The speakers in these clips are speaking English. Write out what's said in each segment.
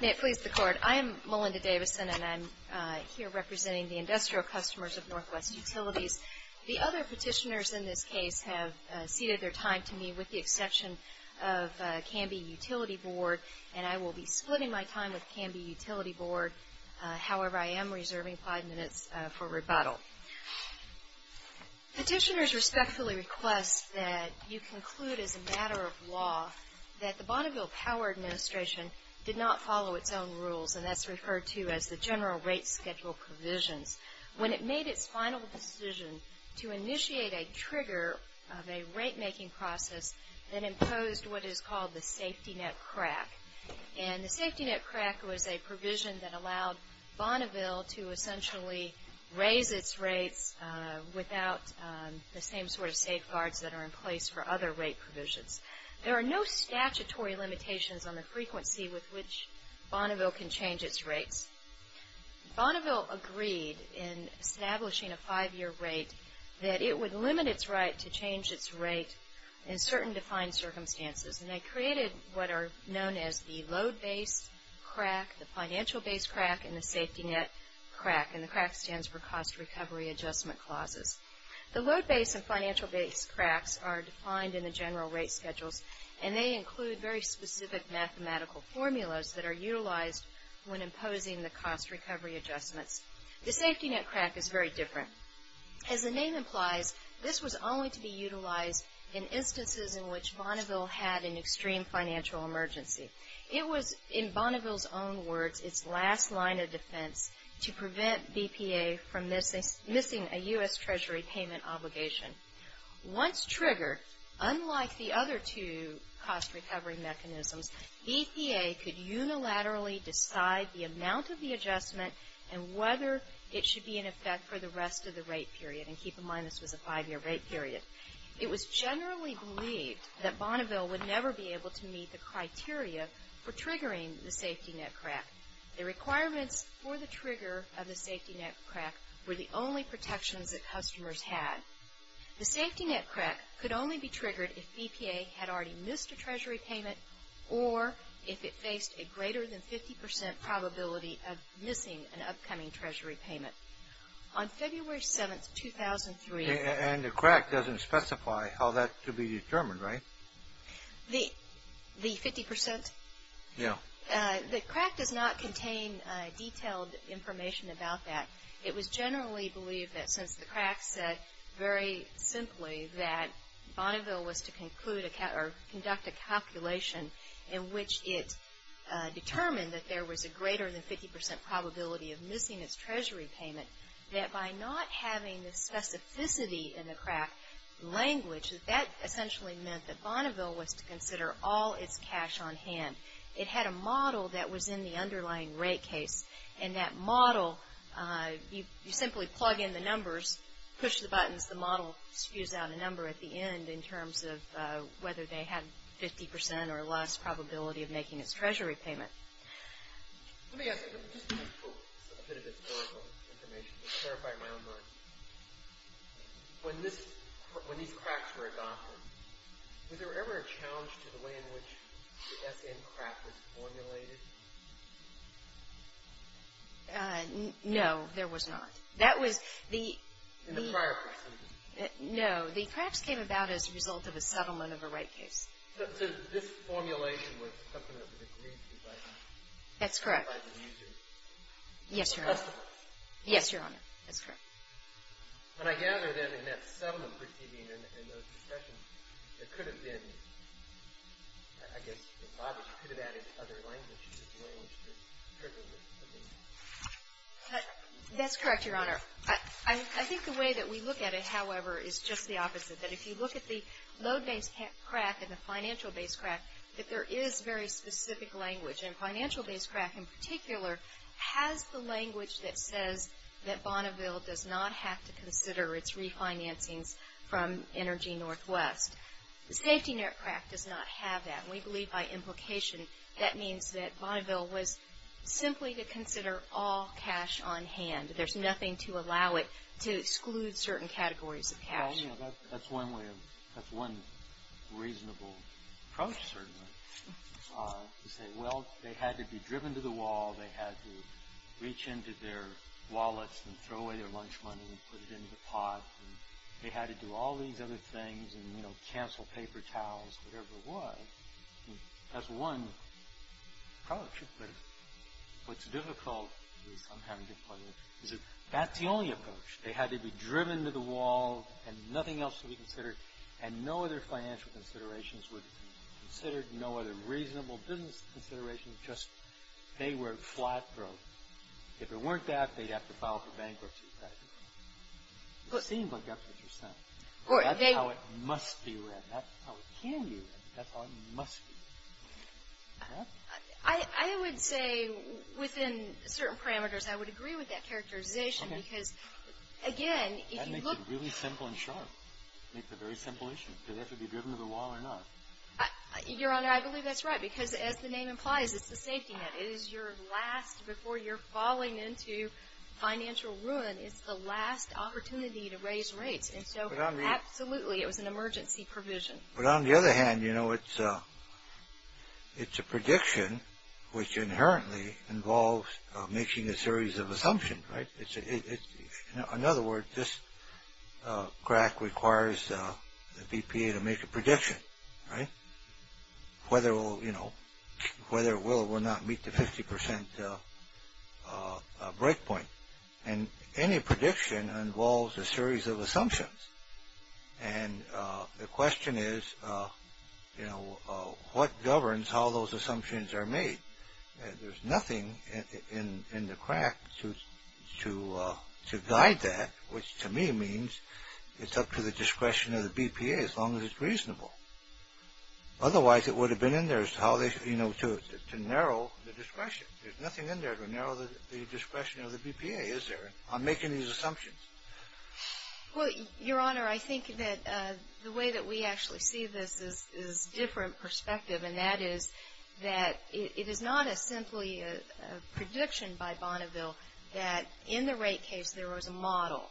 May it please the Court, I am Melinda Davison, and I'm here representing the industrial customers of Northwest Utilities. The other petitioners in this case have ceded their time to me with the exception of Canby Utility Board, and I will be splitting my time with Canby Utility Board. However, I am reserving five minutes for rebuttal. Petitioners respectfully request that you conclude as a matter of law that the Bonneville Power Administration did not follow its own rules, and that's referred to as the general rate schedule provisions, when it made its final decision to initiate a trigger of a rate-making process that imposed what is called the safety net crack. And the safety net crack was a provision that allowed Bonneville to essentially raise its rates without the same sort of safeguards that are in place for other rate provisions. There are no statutory limitations on the frequency with which Bonneville can change its rates. Bonneville agreed in establishing a five-year rate that it would limit its right to change its rate in certain defined circumstances, and they created what are known as the load-based crack, the financial-based crack, and the safety net crack, and the crack stands for cost recovery adjustment clauses. The load-based and financial-based cracks are defined in the general rate schedules, and they include very specific mathematical formulas that are utilized when imposing the cost recovery adjustments. The safety net crack is very different. As the name implies, this was only to be utilized in instances in which Bonneville had an extreme financial emergency. It was, in Bonneville's own words, its last line of defense to prevent BPA from missing a U.S. Treasury payment obligation. Once triggered, unlike the other two cost recovery mechanisms, BPA could unilaterally decide the amount of the adjustment and whether it should be in effect for the rest of the rate period, and keep in mind this was a five-year rate period. It was generally believed that Bonneville would never be able to meet the criteria for triggering the safety net crack. The requirements for the trigger of the safety net crack were the only protections that customers had. The safety net crack could only be triggered if BPA had already missed a Treasury payment or if it faced a greater than 50% probability of missing an upcoming Treasury payment. On February 7, 2003- And the crack doesn't specify how that could be determined, right? The 50%? Yeah. The crack does not contain detailed information about that. It was generally believed that since the crack said very simply that Bonneville was to conclude or conduct a calculation in which it determined that there was a greater than 50% probability of missing its Treasury payment, that by not having the specificity in the crack language, that that essentially meant that Bonneville was to consider all its cash on hand. It had a model that was in the underlying rate case, and that model, you simply plug in the numbers, push the buttons, and thus the model spews out a number at the end in terms of whether they had 50% or less probability of making its Treasury payment. Let me ask you a bit of historical information to clarify my own mind. When these cracks were adopted, was there ever a challenge to the way in which the SM crack was formulated? No, there was not. In the prior proceedings? No. The cracks came about as a result of a settlement of a rate case. So this formulation was something that was agreed to by the users? Yes, Your Honor. Customers? Yes, Your Honor. That's correct. And I gather, then, in that settlement proceeding and those discussions, there could have been, I guess, a model. You could have added other language to the language to trigger the meeting. That's correct, Your Honor. I think the way that we look at it, however, is just the opposite, that if you look at the load-based crack and the financial-based crack, that there is very specific language. And financial-based crack, in particular, has the language that says that Bonneville does not have to consider its refinancings from Energy Northwest. The safety net crack does not have that. And we believe, by implication, that means that Bonneville was simply to consider all cash on hand. There's nothing to allow it to exclude certain categories of cash. That's one reasonable approach, certainly, to say, well, they had to be driven to the wall. They had to reach into their wallets and throw away their lunch money and put it into the pot. They had to do all these other things and, you know, cancel paper, towels, whatever it was. That's one approach. But what's difficult is that's the only approach. They had to be driven to the wall and nothing else to be considered, and no other financial considerations were considered, no other reasonable business considerations, just they were flat broke. It seems like that's what you're saying. That's how it must be read. That's how it can be read. That's how it must be read. I would say within certain parameters I would agree with that characterization because, again, if you look at it. That makes it really simple and sharp. It makes it a very simple issue. Do they have to be driven to the wall or not? Your Honor, I believe that's right because, as the name implies, it's the safety net. It is your last before you're falling into financial ruin. It's the last opportunity to raise rates. And so, absolutely, it was an emergency provision. But on the other hand, you know, it's a prediction which inherently involves making a series of assumptions, right? In other words, this crack requires the BPA to make a prediction, right? Whether it will or will not meet the 50% break point. And any prediction involves a series of assumptions. And the question is, you know, what governs how those assumptions are made? There's nothing in the crack to guide that, which to me means it's up to the discretion of the BPA as long as it's reasonable. Otherwise, it would have been in there to narrow the discretion. There's nothing in there to narrow the discretion of the BPA, is there, on making these assumptions? Well, Your Honor, I think that the way that we actually see this is a different perspective, and that is that it is not simply a prediction by Bonneville that in the rate case there was a model.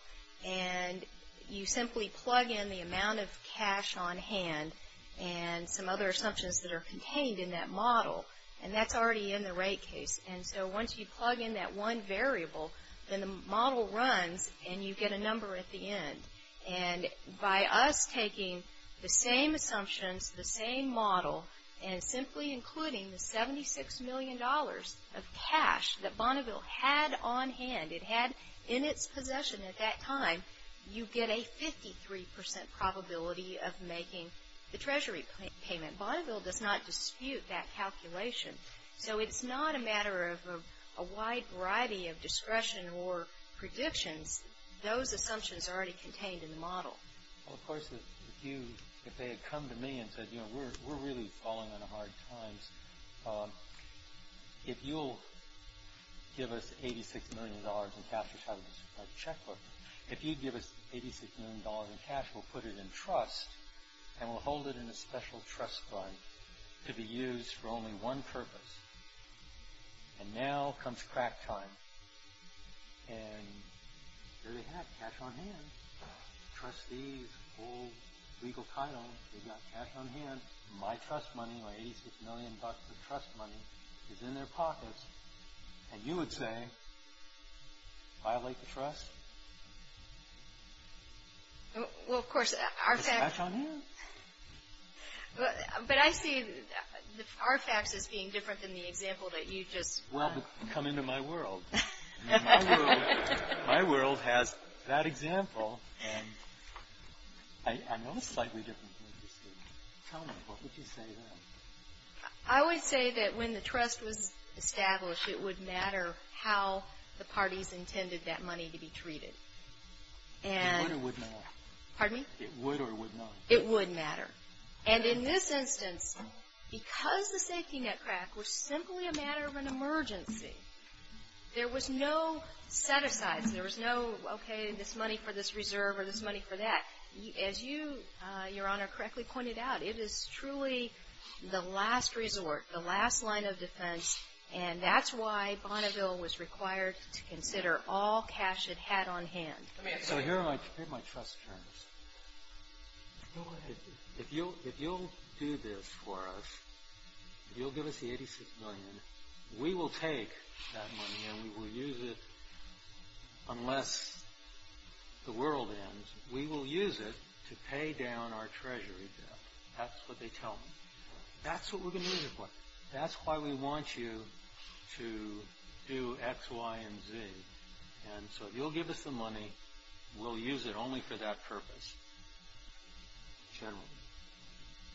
And you simply plug in the amount of cash on hand and some other assumptions that are contained in that model, and that's already in the rate case. And so once you plug in that one variable, then the model runs and you get a number at the end. And by us taking the same assumptions, the same model, and simply including the $76 million of cash that Bonneville had on hand, it had in its possession at that time, you get a 53% probability of making the Treasury payment. Bonneville does not dispute that calculation. So it's not a matter of a wide variety of discretion or predictions. Those assumptions are already contained in the model. Well, of course, if they had come to me and said, you know, we're really falling on hard times, if you'll give us $86 million in cash, we'll have a checkbook. If you give us $86 million in cash, we'll put it in trust, and we'll hold it in a special trust fund to be used for only one purpose. And now comes crack time. And there they have it, cash on hand. Trustees, full legal title, they've got cash on hand. My trust money, my $86 million of trust money is in their pockets. And you would say, violate the trust? Well, of course, our facts... It's cash on hand. But I see our facts as being different than the example that you just... Well, come into my world. My world has that example. I know it's slightly different. Tell me, what would you say then? I would say that when the trust was established, it would matter how the parties intended that money to be treated. It would or would not? Pardon me? It would or would not? It would matter. And in this instance, because the safety net crack was simply a matter of an emergency, there was no set-asides. There was no, okay, this money for this reserve or this money for that. As you, Your Honor, correctly pointed out, it is truly the last resort, the last line of defense, and that's why Bonneville was required to consider all cash it had on hand. So here are my trust terms. If you'll do this for us, if you'll give us the 86 million, we will take that money and we will use it unless the world ends. We will use it to pay down our treasury debt. That's what they tell me. That's what we're going to use it for. That's why we want you to do X, Y, and Z. And so if you'll give us the money, we'll use it only for that purpose, generally,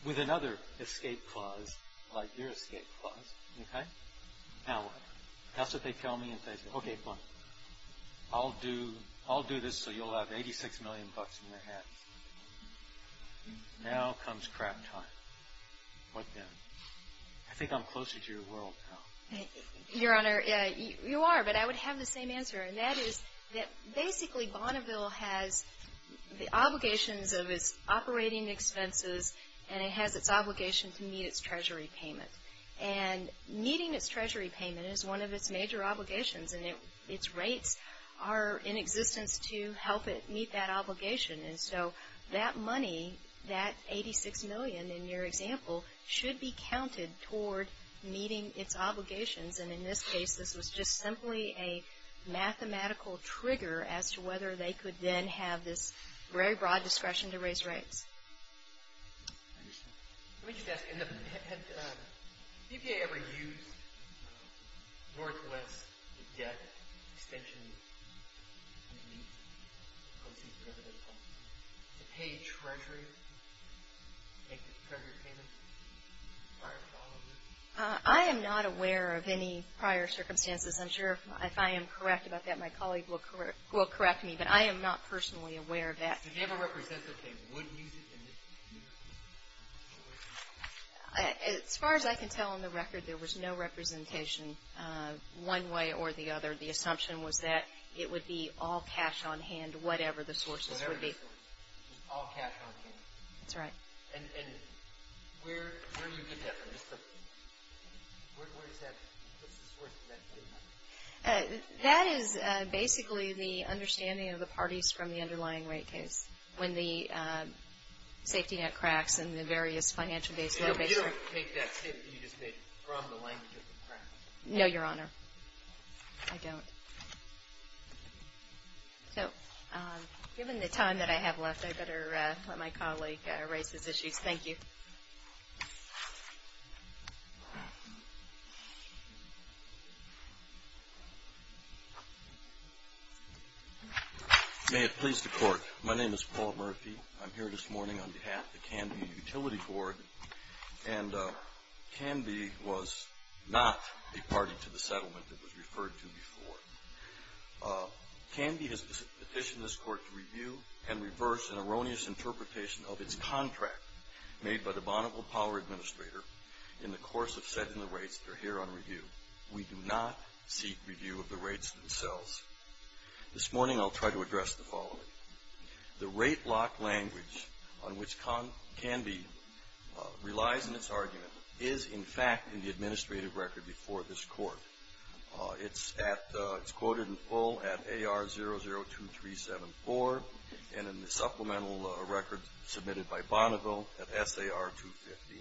with another escape clause like your escape clause, okay? Now what? That's what they tell me. Okay, fine. I'll do this so you'll have 86 million bucks in your hands. Now comes crap time. What then? I think I'm closer to your world now. Your Honor, you are, but I would have the same answer. And that is that basically Bonneville has the obligations of its operating expenses and it has its obligation to meet its treasury payment. And meeting its treasury payment is one of its major obligations, and its rates are in existence to help it meet that obligation. And so that money, that 86 million in your example, should be counted toward meeting its obligations. And in this case, this was just simply a mathematical trigger as to whether they could then have this very broad discretion to raise rates. I understand. Let me just ask, had the BPA ever used Northwest debt extension to pay treasury payments? Prior to all of this? I am not aware of any prior circumstances. I'm sure if I am correct about that, my colleague will correct me. But I am not personally aware of that. Did they ever represent that they would use it? As far as I can tell on the record, there was no representation one way or the other. The assumption was that it would be all cash on hand, whatever the sources would be. Whatever the sources, all cash on hand. That's right. And where do you get that from? What's the source of that data? That is basically the understanding of the parties from the underlying rate case when the safety net cracks in the various financial base locations. You don't make that statement. You just make it from the language of the practice. No, Your Honor. I don't. So given the time that I have left, I better let my colleague raise his issues. Thank you. May it please the Court, my name is Paul Murphy. I'm here this morning on behalf of the Canby Utility Board. And Canby was not a party to the settlement that was referred to before. Canby has petitioned this Court to review and reverse an erroneous interpretation of its contract made by the Bonneville Power Administrator in the course of setting the rates that are here on review. We do not seek review of the rates themselves. This morning I'll try to address the following. The rate block language on which Canby relies in its argument is in fact in the administrative record before this Court. It's quoted in full at AR002374 and in the supplemental record submitted by Bonneville at SAR215.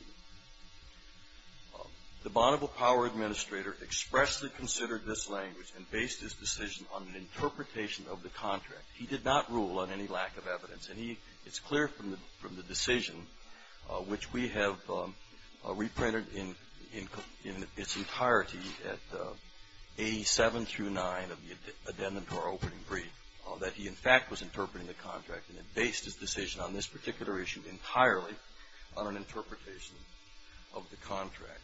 The Bonneville Power Administrator expressly considered this language and based his decision on an interpretation of the contract. He did not rule on any lack of evidence. And it's clear from the decision, which we have reprinted in its entirety at A7-9 of the addendum to our opening brief, that he in fact was interpreting the contract and had based his decision on this particular issue entirely on an interpretation of the contract.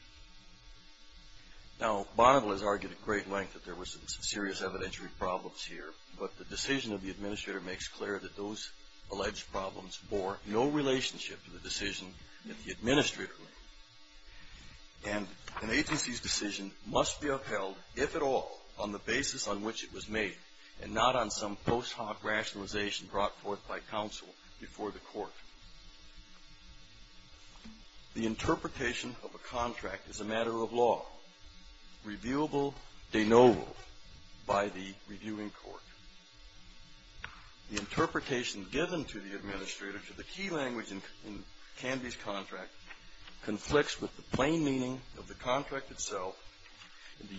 Now, Bonneville has argued at great length that there was serious evidentiary problems here. But the decision of the Administrator makes clear that those alleged problems bore no relationship to the decision that the Administrator made. And an agency's decision must be upheld, if at all, on the basis on which it was made and not on some post hoc rationalization brought forth by counsel before the Court. The interpretation of a contract is a matter of law, reviewable de novo by the reviewing court. The interpretation given to the Administrator to the key language in Canby's contract conflicts with the plain meaning of the contract itself,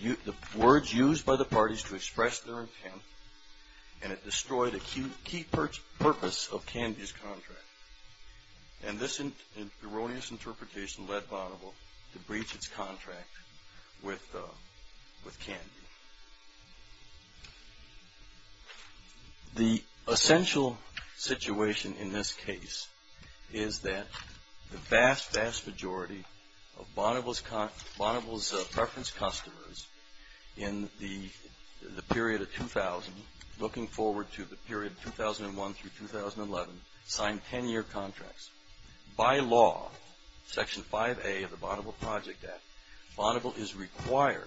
the words used by the parties to express their intent, and it destroyed a key purpose of Canby's contract. And this erroneous interpretation led Bonneville to breach its contract with Canby. The essential situation in this case is that the vast, vast majority of Bonneville's preference customers in the period of 2000, looking forward to the period of 2001 through 2011, signed 10-year contracts. By law, Section 5A of the Bonneville Project Act, Bonneville is required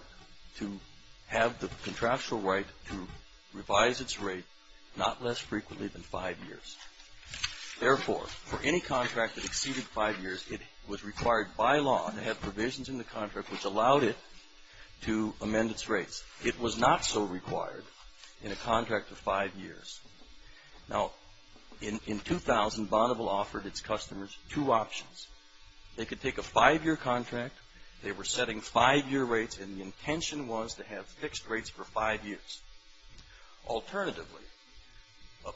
to have the contractual right to revise its rate not less frequently than five years. Therefore, for any contract that exceeded five years, it was required by law to have provisions in the contract which allowed it to amend its rates. It was not so required in a contract of five years. Now, in 2000, Bonneville offered its customers two options. They could take a five-year contract. They were setting five-year rates, and the intention was to have fixed rates for five years. Alternatively, a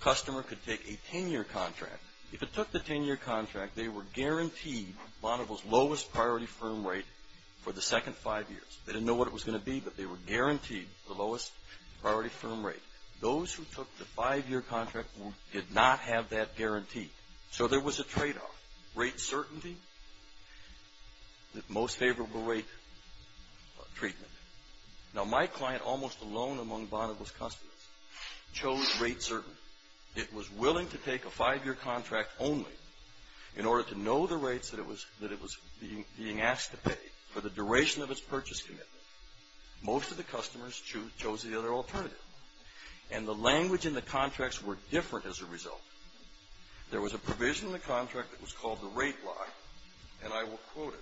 customer could take a 10-year contract. If it took the 10-year contract, they were guaranteed Bonneville's lowest priority firm rate for the second five years. They didn't know what it was going to be, but they were guaranteed the lowest priority firm rate. Those who took the five-year contract did not have that guarantee, so there was a tradeoff. Rate certainty, the most favorable rate treatment. Now, my client, almost alone among Bonneville's customers, chose rate certainty. It was willing to take a five-year contract only. In order to know the rates that it was being asked to pay for the duration of its purchase commitment, most of the customers chose the other alternative, and the language in the contracts were different as a result. There was a provision in the contract that was called the rate lie, and I will quote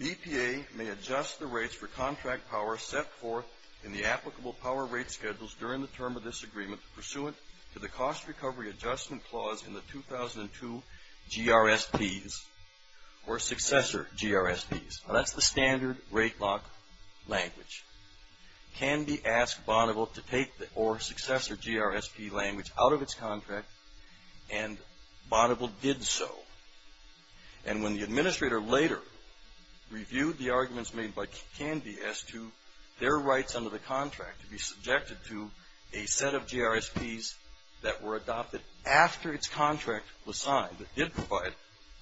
it. BPA may adjust the rates for contract power set forth in the applicable power rate schedules during the term of this agreement pursuant to the cost recovery adjustment clause in the 2002 GRSPs or successor GRSPs. Now, that's the standard rate lock language. Canby asked Bonneville to take the or successor GRSP language out of its contract, and Bonneville did so. And when the administrator later reviewed the arguments made by Canby as to their rights under the contract to be subjected to a set of GRSPs that were adopted after its contract was signed that did provide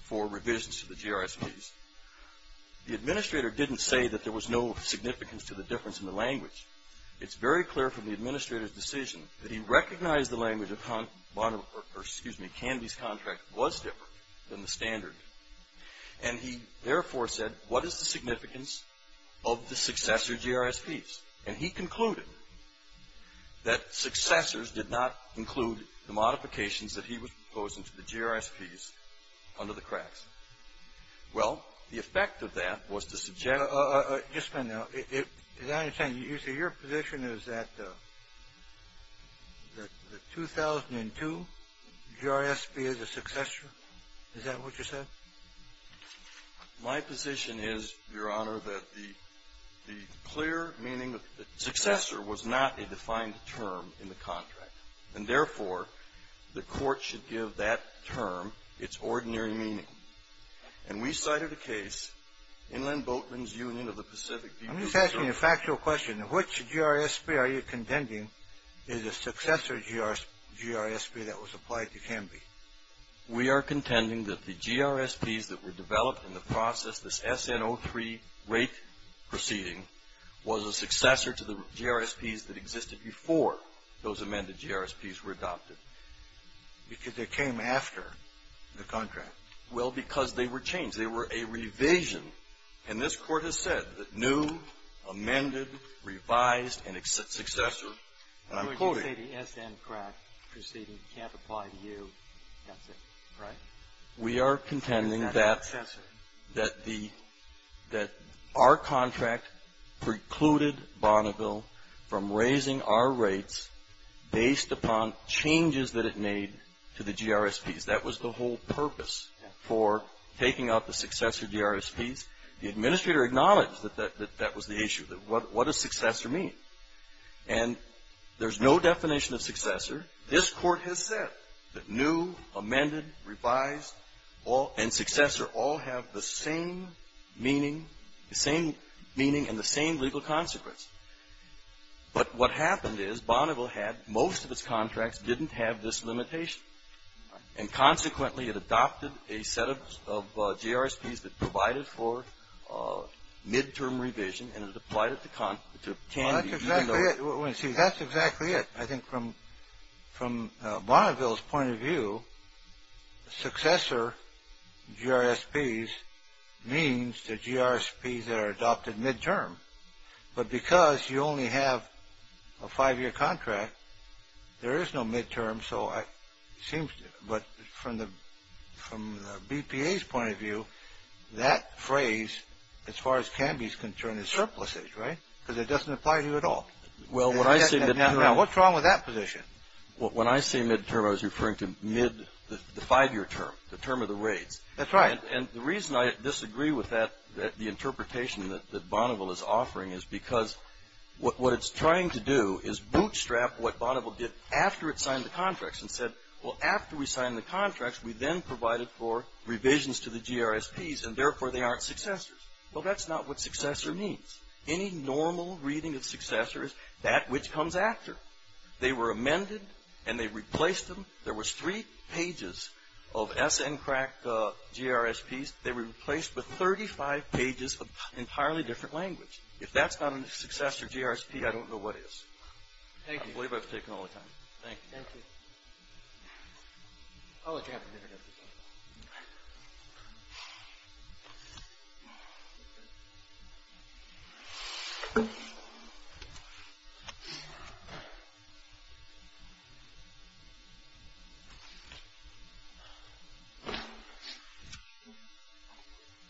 for revisions to the GRSPs, the administrator didn't say that there was no significance to the difference in the language. It's very clear from the administrator's decision that he recognized the language of Canby's contract was different than the standard. And he therefore said, what is the significance of the successor GRSPs? And he concluded that successors did not include the modifications that he was proposing to the GRSPs under the cracks. Well, the effect of that was to suggest — Just a minute now. Is that what you're saying? You say your position is that the 2002 GRSP is a successor? Is that what you said? My position is, Your Honor, that the clear meaning of the successor was not a defined term in the contract. And therefore, the Court should give that term its ordinary meaning. And we cited a case, Inland Boatman's Union of the Pacific. I'm just asking a factual question. Which GRSP are you contending is a successor GRSP that was applied to Canby? We are contending that the GRSPs that were developed in the process, this SN03 rate proceeding, was a successor to the GRSPs that existed before those amended GRSPs were adopted. Because they came after the contract. Well, because they were changed. They were a revision. And this Court has said that new, amended, revised, and successor. I'm quoting. You say the SN crack proceeding can't apply to you. That's it, right? We are contending that our contract precluded Bonneville from raising our rates based upon changes that it made to the GRSPs. That was the whole purpose for taking out the successor GRSPs. The Administrator acknowledged that that was the issue. What does successor mean? And there's no definition of successor. This Court has said that new, amended, revised, and successor all have the same meaning and the same legal consequence. But what happened is Bonneville had most of its contracts didn't have this limitation. And consequently, it adopted a set of GRSPs that provided for midterm revision, and it applied it to Canby. That's exactly it. See, that's exactly it. I think from Bonneville's point of view, successor GRSPs means the GRSPs that are adopted midterm. But because you only have a five-year contract, there is no midterm. But from the BPA's point of view, that phrase, as far as Canby's concerned, is surpluses, right? Because it doesn't apply to you at all. Now, what's wrong with that position? Well, when I say midterm, I was referring to mid the five-year term, the term of the raids. That's right. And the reason I disagree with that, the interpretation that Bonneville is offering, is because what it's trying to do is bootstrap what Bonneville did after it signed the contracts and said, well, after we signed the contracts, we then provided for revisions to the GRSPs, and therefore, they aren't successors. Well, that's not what successor means. Any normal reading of successor is that which comes after. They were amended, and they replaced them. There was three pages of SNCRAC GRSPs. They were replaced with 35 pages of entirely different language. If that's not a successor GRSP, I don't know what is. I believe I've taken all the time. Thank you. Thank you. I'll let you have a minute.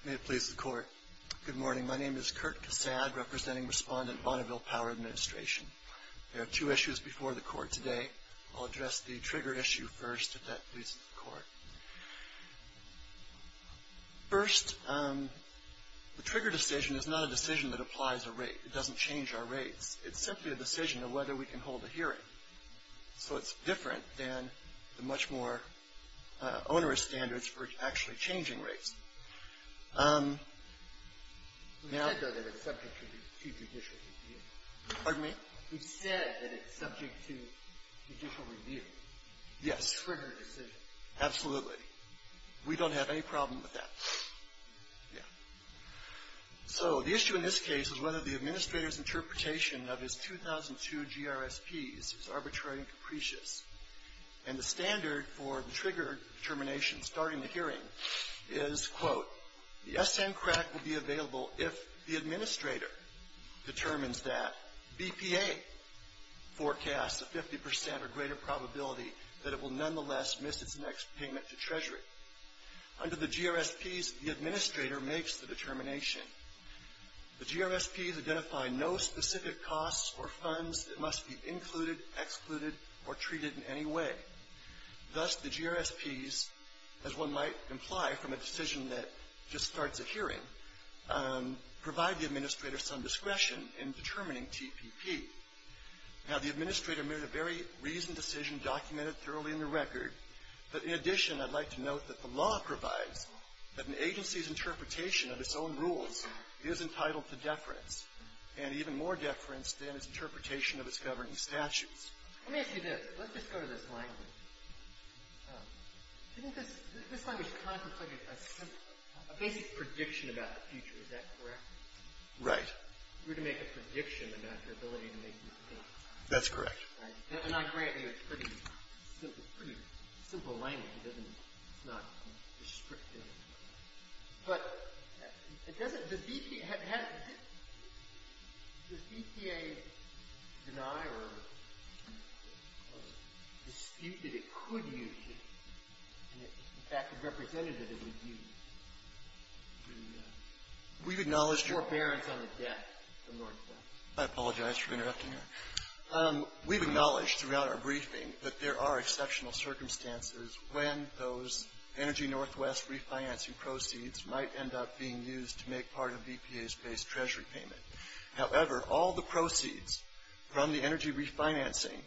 May it please the Court. Good morning. My name is Kurt Cassad, representing Respondent Bonneville Power Administration. I have two issues before the Court today. I'll address the trigger issue first, if that pleases the Court. First, the trigger decision is not a decision that applies a rate. It doesn't change our rates. It's simply a decision of whether we can hold a hearing. So it's different than the much more onerous standards for actually changing rates. We've said, though, that it's subject to judicial review. Pardon me? We've said that it's subject to judicial review. Yes. Trigger decision. Absolutely. We don't have any problem with that. Yeah. So the issue in this case is whether the administrator's interpretation of his 2002 GRSPs is arbitrary and capricious. And the standard for the trigger determination starting the hearing is, quote, the SN CRAC will be available if the administrator determines that BPA forecasts a 50 percent or greater probability that it will nonetheless miss its next payment to Treasury. Under the GRSPs, the administrator makes the determination. The GRSPs identify no specific costs or funds that must be included, excluded, or treated in any way. Thus, the GRSPs, as one might imply from a decision that just starts a hearing, provide the administrator some discretion in determining TPP. Now, the administrator made a very reasoned decision documented thoroughly in the record. But in addition, I'd like to note that the law provides that an agency's interpretation of its own rules is entitled to deference, and even more deference than its interpretation of its governing statutes. Let me ask you this. Let's just go to this language. This language kind of looks like a basic prediction about the future. Is that correct? Right. We're to make a prediction about your ability to make these payments. That's correct. And I grant you it's pretty simple. Pretty simple language. It doesn't — it's not descriptive. But it doesn't — the DPA has — does DPA deny or dispute that it could use it? In fact, the representative would use it. We've acknowledged your — Forbearance on the debt, the mortgage debt. I apologize for interrupting you. We've acknowledged throughout our briefing that there are exceptional circumstances when those Energy Northwest refinancing proceeds might end up being used to make part of DPA's base treasury payment. However, all the proceeds from the energy refinancing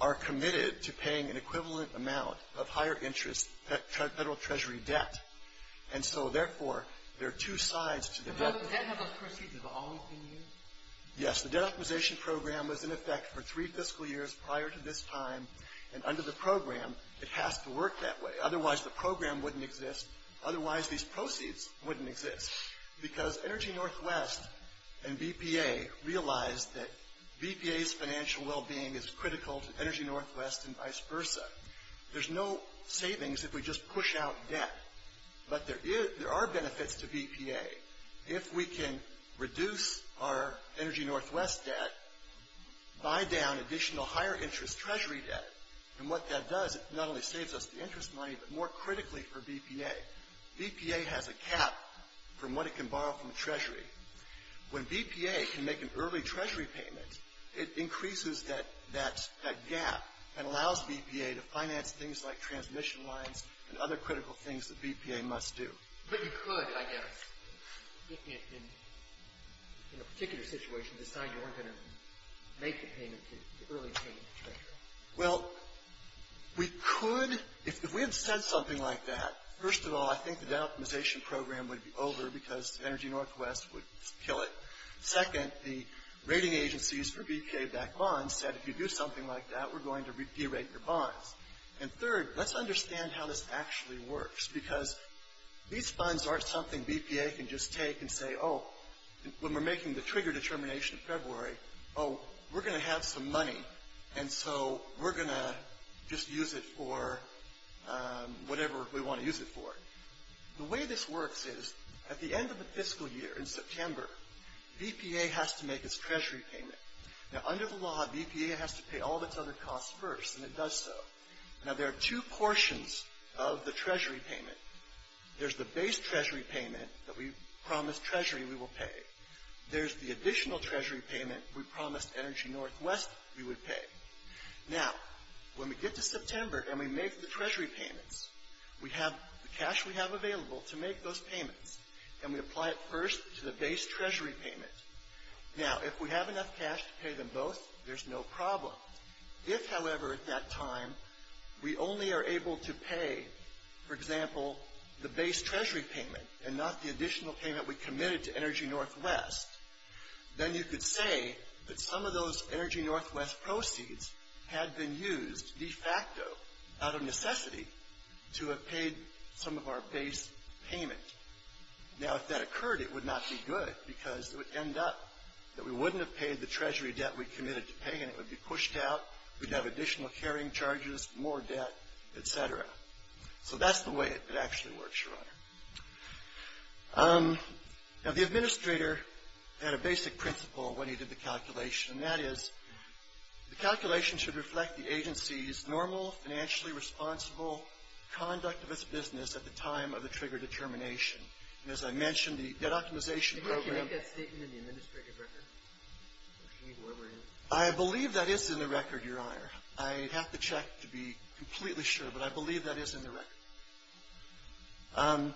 are committed to paying an equivalent amount of higher interest federal treasury debt. And so, therefore, there are two sides to the debt. Does that have those proceeds have always been used? Yes. The debt optimization program was in effect for three fiscal years prior to this time. And under the program, it has to work that way. Otherwise, the program wouldn't exist. Otherwise, these proceeds wouldn't exist. Because Energy Northwest and BPA realized that BPA's financial well-being is critical to Energy Northwest and vice versa. There's no savings if we just push out debt. But there are benefits to BPA. If we can reduce our Energy Northwest debt, buy down additional higher interest treasury debt, and what that does, it not only saves us the interest money, but more critically for BPA. BPA has a cap from what it can borrow from the treasury. When BPA can make an early treasury payment, it increases that gap and allows BPA to finance things like transmission lines and other critical things that BPA must do. But you could, I guess, in a particular situation, decide you weren't going to make the payment, the early payment. Well, we could. If we had said something like that, first of all, I think the debt optimization program would be over because Energy Northwest would kill it. Second, the rating agencies for BPA-backed bonds said, if you do something like that, we're going to de-rate your bonds. And third, let's understand how this actually works. Because these funds aren't something BPA can just take and say, oh, when we're making the trigger determination in February, oh, we're going to have some money, and so we're going to just use it for whatever we want to use it for. The way this works is, at the end of the fiscal year, in September, BPA has to make its treasury payment. Now, under the law, BPA has to pay all of its other costs first, and it does so. Now, there are two portions of the treasury payment. There's the base treasury payment that we promised treasury we will pay. There's the additional treasury payment we promised Energy Northwest we would pay. Now, when we get to September and we make the treasury payments, we have the cash we have available to make those payments, and we apply it first to the base treasury payment. Now, if we have enough cash to pay them both, there's no problem. If, however, at that time, we only are able to pay, for example, the base treasury payment and not the additional payment we committed to Energy Northwest, then you could say that some of those Energy Northwest proceeds had been used de facto, out of necessity, to have paid some of our base payment. Now, if that occurred, it would not be good, because it would end up that we wouldn't have paid the treasury debt we committed to pay, and it would be pushed out. We'd have additional carrying charges, more debt, et cetera. So that's the way it actually works, Your Honor. Now, the administrator had a basic principle when he did the calculation, and that is the calculation should reflect the agency's normal, financially responsible conduct of its business at the time of the trigger determination. And as I mentioned, the debt optimization program — I believe that is in the record, Your Honor. I'd have to check to be completely sure, but I believe that is in the record.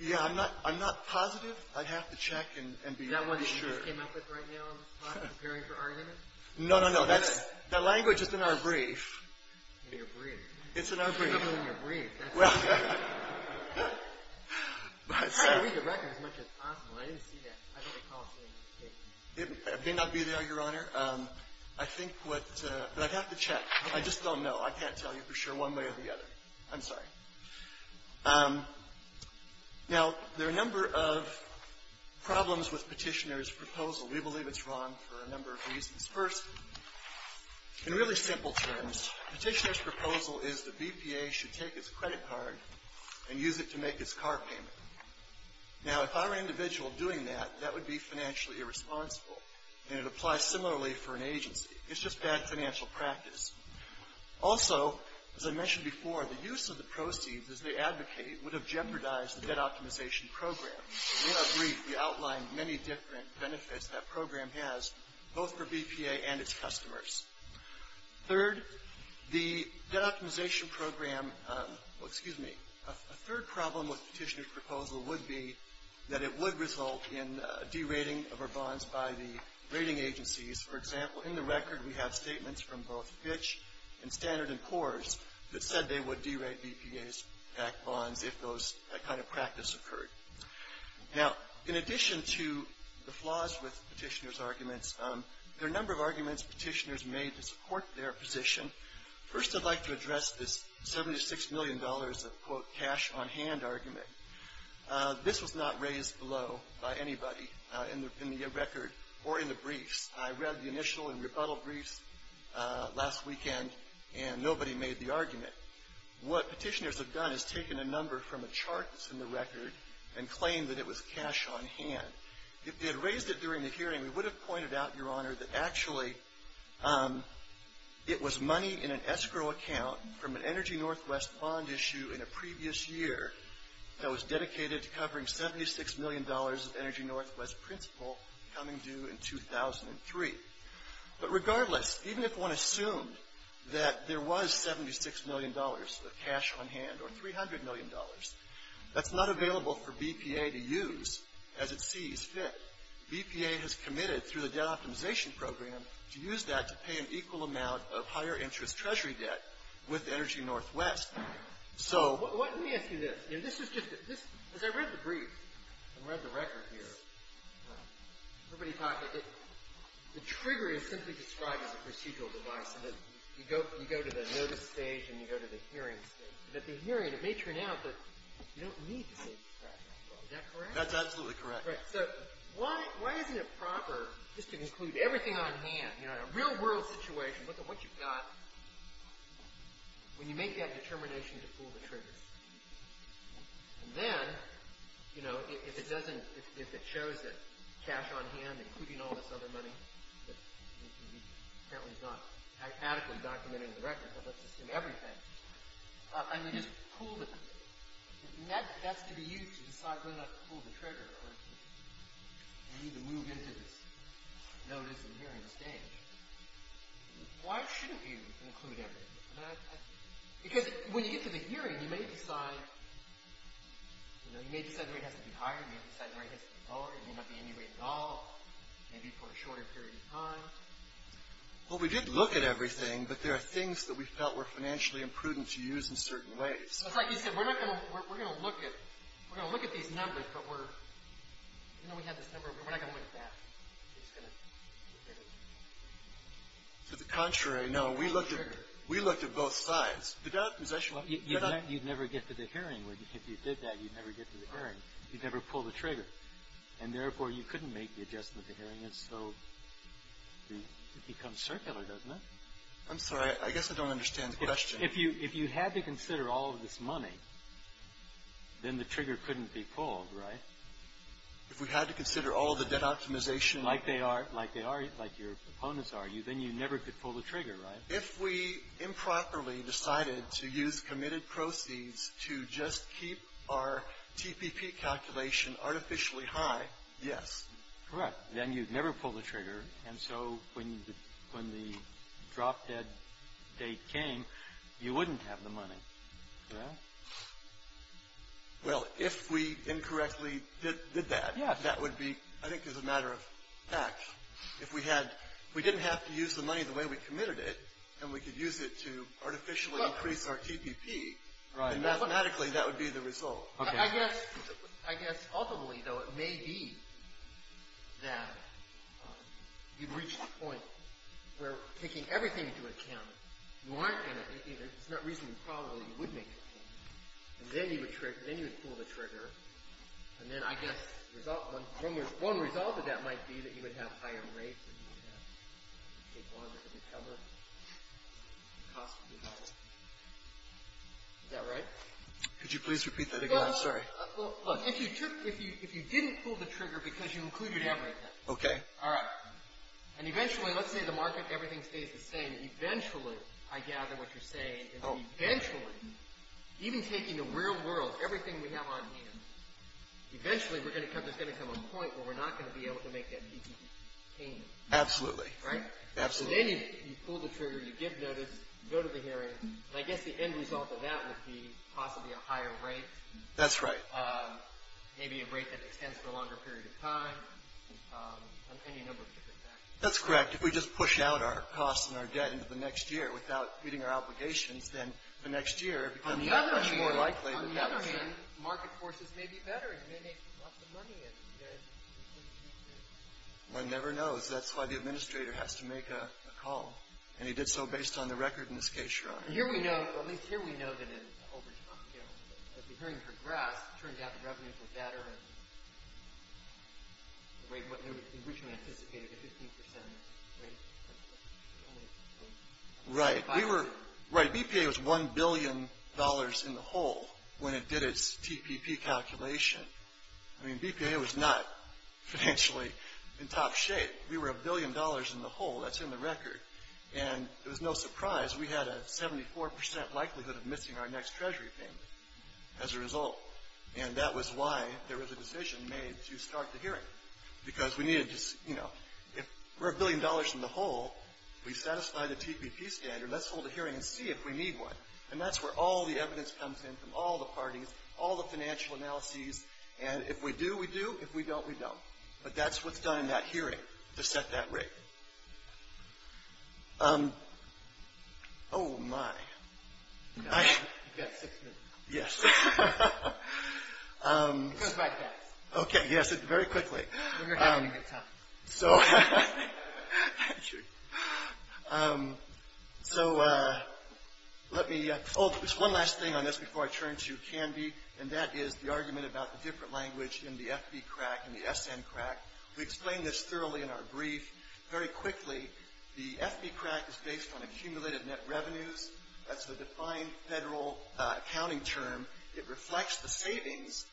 Yeah, I'm not positive. I'd have to check and be sure. Is that one that you just came up with right now on the spot, preparing for arguments? No, no, no. That language is in our brief. In your brief? It's in our brief. I don't believe it's in your brief. I read the record as much as possible. I didn't see that. I don't recall seeing it. It may not be there, Your Honor. I think what — but I'd have to check. I just don't know. I can't tell you for sure one way or the other. I'm sorry. Now, there are a number of problems with Petitioner's proposal. We believe it's wrong for a number of reasons. First, in really simple terms, Petitioner's proposal is the BPA should take its credit card and use it to make its car payment. Now, if I were an individual doing that, that would be financially irresponsible, and it applies similarly for an agency. It's just bad financial practice. Also, as I mentioned before, the use of the proceeds as they advocate would have jeopardized the debt optimization program. In our brief, we outline many different benefits that program has, both for BPA and its customers. Third, the debt optimization program — well, excuse me. A third problem with Petitioner's proposal would be that it would result in derating of our bonds by the rating agencies. For example, in the record we have statements from both Fitch and Standard & Poor's that said they would derate BPA-backed bonds if that kind of practice occurred. Now, in addition to the flaws with Petitioner's arguments, there are a number of arguments Petitioner's made to support their position. First, I'd like to address this $76 million of, quote, cash-on-hand argument. This was not raised below by anybody in the record or in the briefs. I read the initial and rebuttal briefs last weekend, and nobody made the argument. What Petitioner's have done is taken a number from a chart that's in the record and claimed that it was cash-on-hand. If they had raised it during the hearing, we would have pointed out, Your Honor, that actually it was money in an escrow account from an Energy Northwest bond issue in a previous year that was dedicated to covering $76 million of Energy Northwest principal coming due in 2003. But regardless, even if one assumed that there was $76 million of cash-on-hand or $300 million, that's not available for BPA to use as it sees fit. BPA has committed, through the debt optimization program, to use that to pay an equal amount of higher-interest Treasury debt with Energy Northwest. So— Let me ask you this. You know, this is just—as I read the brief and read the record here, everybody talked— the trigger is simply described as a procedural device in that you go to the notice stage and you go to the hearing stage. At the hearing, it may turn out that you don't need to save the cash-on-hand. Is that correct? That's absolutely correct. Right. So why isn't it proper, just to include everything on hand, you know, in a real-world situation, look at what you've got, when you make that determination to fool the triggers? And then, you know, if it doesn't—if it shows that cash-on-hand, including all this other money, which apparently is not mathematically documented in the record, but let's assume everything, and we just pull the—that's to be used to decide whether or not to pull the trigger or if you need to move into this notice and hearing stage. Why shouldn't you include everything? Because when you get to the hearing, you may decide, you know, you may decide the rate has to be higher. You may decide the rate has to be lower. It may not be any rate at all, maybe for a shorter period of time. Well, we did look at everything, but there are things that we felt were financially imprudent to use in certain ways. It's like you said. We're not going to—we're going to look at—we're going to look at these numbers, but we're—you know, we have this number. We're not going to look at that. We're just going to look at it. To the contrary, no. We looked at both sides. The doubt is actually— You'd never get to the hearing. If you did that, you'd never get to the hearing. You'd never pull the trigger. And therefore, you couldn't make the adjustment to hearing it, so it becomes circular, doesn't it? I'm sorry. I guess I don't understand the question. If you had to consider all of this money, then the trigger couldn't be pulled, right? If we had to consider all of the debt optimization— Like they are—like they are—like your opponents argue, then you never could pull the trigger, right? If we improperly decided to use committed proceeds to just keep our TPP calculation artificially high, yes. Correct. Then you'd never pull the trigger, and so when the drop-dead date came, you wouldn't have the money, correct? Well, if we incorrectly did that, that would be—I think it's a matter of fact. If we had—if we didn't have to use the money the way we committed it, and we could use it to artificially increase our TPP, then mathematically that would be the result. I guess—I guess ultimately, though, it may be that you've reached a point where taking everything into account, you aren't going to—it's not reasonably probable that you would make a point. And then you would trigger—then you would pull the trigger. And then, I guess, the result—one result of that might be that you would have higher rates, and you would have—you'd take longer to recover, and the cost would be higher. Is that right? Could you please repeat that again? I'm sorry. Well, look, if you took—if you didn't pull the trigger because you included everything— Okay. All right. And eventually, let's say the market—everything stays the same. Eventually, I gather what you're saying, is eventually, even taking the real world, everything we have on hand, eventually we're going to come—there's going to come a point where we're not going to be able to make that TPP payment. Absolutely. Right? Absolutely. And then you pull the trigger. You give notice. You go to the hearing. And I guess the end result of that would be possibly a higher rate. That's right. Maybe a rate that extends for a longer period of time, any number of different factors. That's correct. If we just push out our costs and our debt into the next year without meeting our obligations, then the next year it becomes much more likely— On the other hand, market forces may be better. It may make lots of money. One never knows. That's why the administrator has to make a call. And he did so based on the record in this case, Your Honor. Here we know—at least here we know that it's over time. As the hearing progressed, it turned out the revenues were better than what we originally anticipated, a 15% rate. Right. BPA was $1 billion in the hole when it did its TPP calculation. I mean, BPA was not financially in top shape. We were $1 billion in the hole. That's in the record. And it was no surprise. We had a 74% likelihood of missing our next Treasury payment as a result. And that was why there was a decision made to start the hearing because we needed to—you know, if we're $1 billion in the hole, we satisfy the TPP standard. Let's hold a hearing and see if we need one. And that's where all the evidence comes in from all the parties, all the financial analyses. And if we do, we do. If we don't, we don't. But that's what's done in that hearing to set that rate. Oh, my. You've got six minutes. Yes. It goes by fast. Okay, yes, very quickly. We're here having a good time. So let me—oh, there's one last thing on this before I turn to Canby, and that is the argument about the different language in the FB CRAC and the SN CRAC. We explained this thoroughly in our brief. Very quickly, the FB CRAC is based on accumulated net revenues. That's the defined federal accounting term. It reflects the savings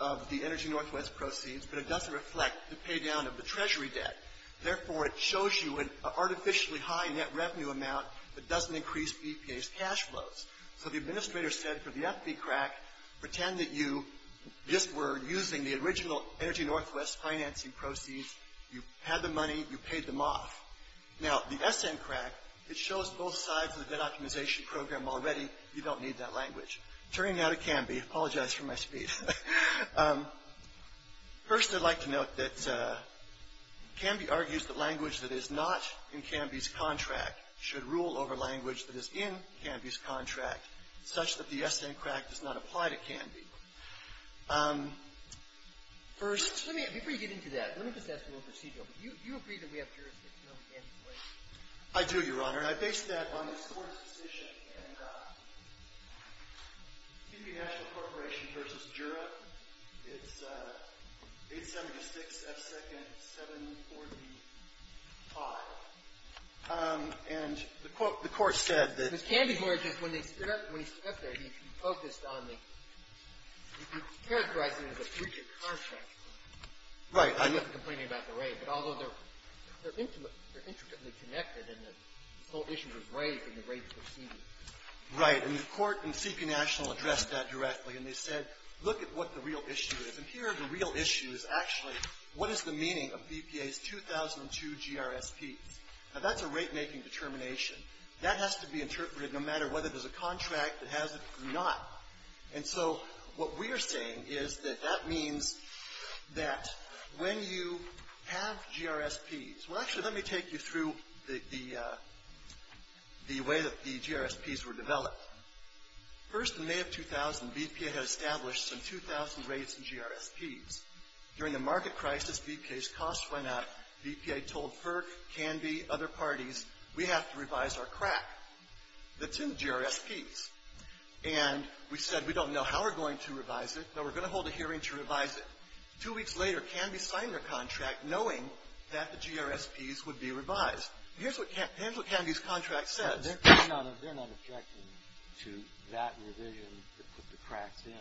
of the Energy Northwest proceeds, but it doesn't reflect the pay down of the Treasury debt. Therefore, it shows you an artificially high net revenue amount that doesn't increase EPA's cash flows. So the administrator said for the FB CRAC, pretend that you just were using the original Energy Northwest financing proceeds. You had the money. You paid them off. Now, the SN CRAC, it shows both sides of the debt optimization program already. You don't need that language. Turning now to Canby, I apologize for my speech. First, I'd like to note that Canby argues that language that is not in Canby's contract should rule over language that is in Canby's contract, such that the SN CRAC does not apply to Canby. First — Let me, before you get into that, let me just ask you a little procedural. Do you agree that we have jurisdiction over Canby's language? I do, Your Honor. And I base that on this Court's decision. And Canby National Corporation v. Jura, it's 876 F. 2nd 745. And the Court said that — Ms. Canby, when he stood up there, he focused on the — he characterized it as a future contract. Right. I'm not complaining about the rate. But although they're intimately connected and the whole issue was raised in the rate procedure. Right. And the Court and CP National addressed that directly. And they said, look at what the real issue is. And here, the real issue is actually, what is the meaning of BPA's 2002 GRSP? Now, that's a rate-making determination. That has to be interpreted no matter whether there's a contract that has it or not. And so, what we are saying is that that means that when you have GRSPs — well, actually, let me take you through the way that the GRSPs were developed. First, in May of 2000, BPA had established some 2,000 rates and GRSPs. During the market crisis, BPA's costs went up. BPA told FERC, Canby, other parties, we have to revise our CRAC that's in GRSPs. And we said, we don't know how we're going to revise it. No, we're going to hold a hearing to revise it. Two weeks later, Canby signed their contract knowing that the GRSPs would be revised. And here's what Canby's contract says. They're not objecting to that revision that put the CRACs in.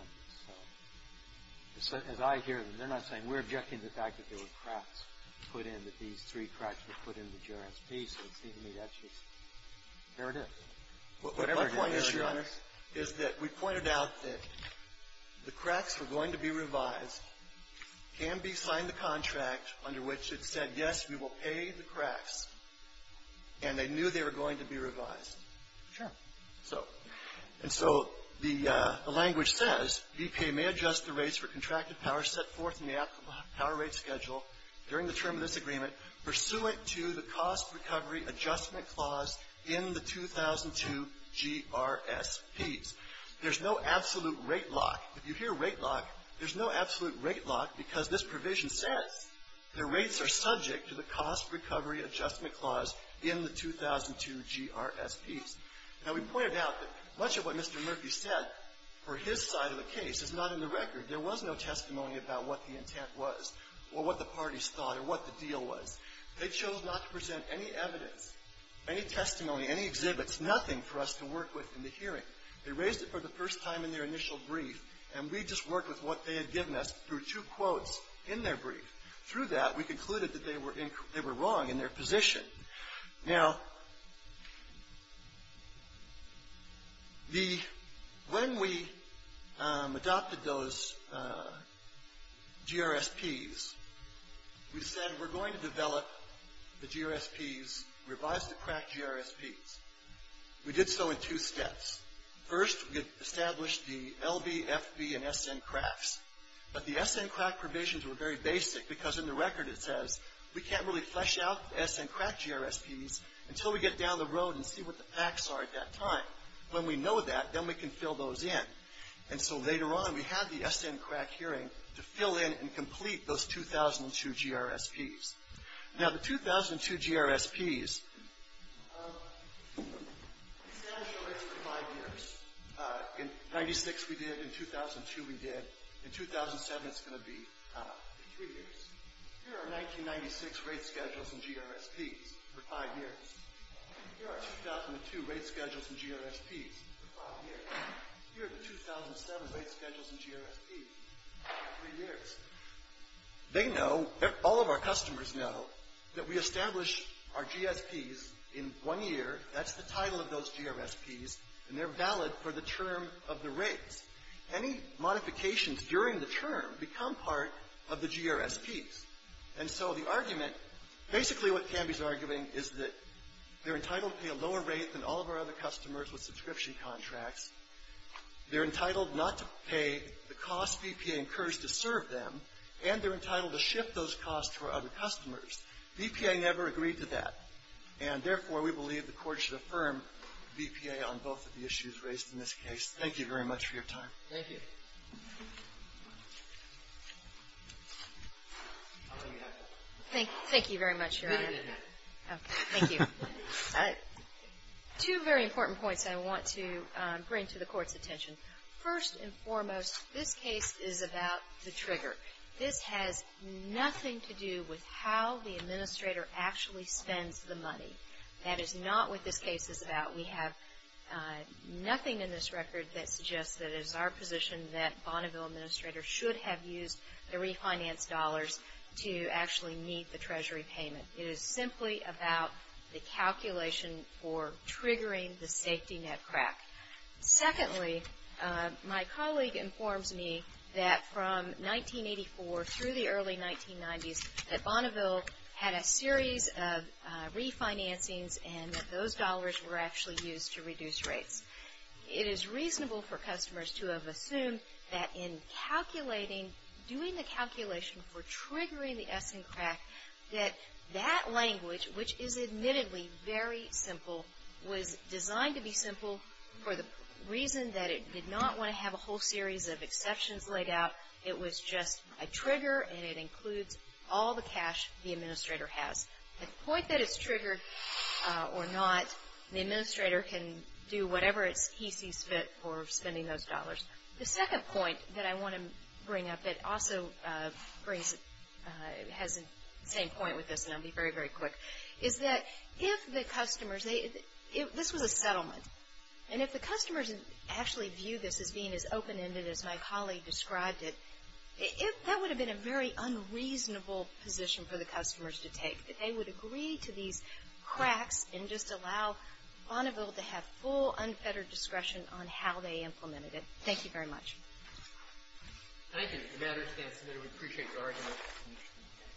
So, as I hear them, they're not saying, we're objecting to the fact that there were CRACs put in, that these three CRACs were put in the GRSP. So, it seems to me that's just — there it is. What my point is, Your Honor, is that we pointed out that the CRACs were going to be revised. Canby signed the contract under which it said, yes, we will pay the CRACs. And they knew they were going to be revised. Sure. So — and so the language says, BPA may adjust the rates for contracted power set forth in the optimal power rate schedule during the term of this agreement pursuant to the cost recovery adjustment clause in the 2002 GRSPs. There's no absolute rate lock. If you hear rate lock, there's no absolute rate lock because this provision says the rates are subject to the cost recovery adjustment clause in the 2002 GRSPs. Now, we pointed out that much of what Mr. Murphy said for his side of the case is not in the record. There was no testimony about what the intent was or what the parties thought or what the deal was. They chose not to present any evidence, any testimony, any exhibits, nothing for us to work with in the hearing. They raised it for the first time in their initial brief, and we just worked with what they had given us through two quotes in their brief. Through that, we concluded that they were wrong in their position. Now, when we adopted those GRSPs, we said we're going to develop the GRSPs, revise the crack GRSPs. We did so in two steps. First, we established the LB, FB, and SN cracks, but the SN crack provisions were very basic because in the record it says we can't really flesh out the SN crack GRSPs until we get down the road and see what the facts are at that time. When we know that, then we can fill those in. And so later on, we had the SN crack hearing to fill in and complete those 2002 GRSPs. Now, the 2002 GRSPs established the rates for five years. In 96 we did. In 2002 we did. In 2007 it's going to be three years. Here are 1996 rate schedules and GRSPs for five years. Here are 2002 rate schedules and GRSPs for five years. Here are the 2007 rate schedules and GRSPs for three years. They know, all of our customers know, that we establish our GSPs in one year. That's the title of those GRSPs, and they're valid for the term of the rates. Any modifications during the term become part of the GRSPs. And so the argument, basically what Canby's arguing is that they're entitled to pay a lower rate than all of our other customers with subscription contracts. They're entitled not to pay the cost BPA incurs to serve them, and they're entitled to shift those costs for other customers. BPA never agreed to that. And therefore, we believe the Court should affirm BPA on both of the issues raised in this case. Thank you very much for your time. Thank you. Thank you very much, Your Honor. Thank you. Two very important points I want to bring to the Court's attention. First and foremost, this case is about the trigger. This has nothing to do with how the administrator actually spends the money. That is not what this case is about. We have nothing in this record that suggests that it is our position that Bonneville administrators should have used the refinanced dollars to actually meet the Treasury payment. It is simply about the calculation for triggering the safety net crack. Secondly, my colleague informs me that from 1984 through the early 1990s, that Bonneville had a series of refinancings and that those dollars were actually used to reduce rates. It is reasonable for customers to have assumed that in calculating, doing the calculation for triggering the S& crack, that that language, which is admittedly very simple, was designed to be simple for the reason that it did not want to have a whole series of exceptions laid out. It was just a trigger and it includes all the cash the administrator has. At the point that it's triggered or not, the administrator can do whatever he sees fit for spending those dollars. The second point that I want to bring up that also has the same point with this, and I'll be very, very quick, is that if the customers, this was a settlement, and if the customers actually view this as being as open-ended as my colleague described it, that would have been a very unreasonable position for the customers to take, that they would agree to these cracks and just allow Bonneville to have full, unfettered discretion on how they implemented it. Thank you very much. Thank you. If that is the case, we appreciate your argument.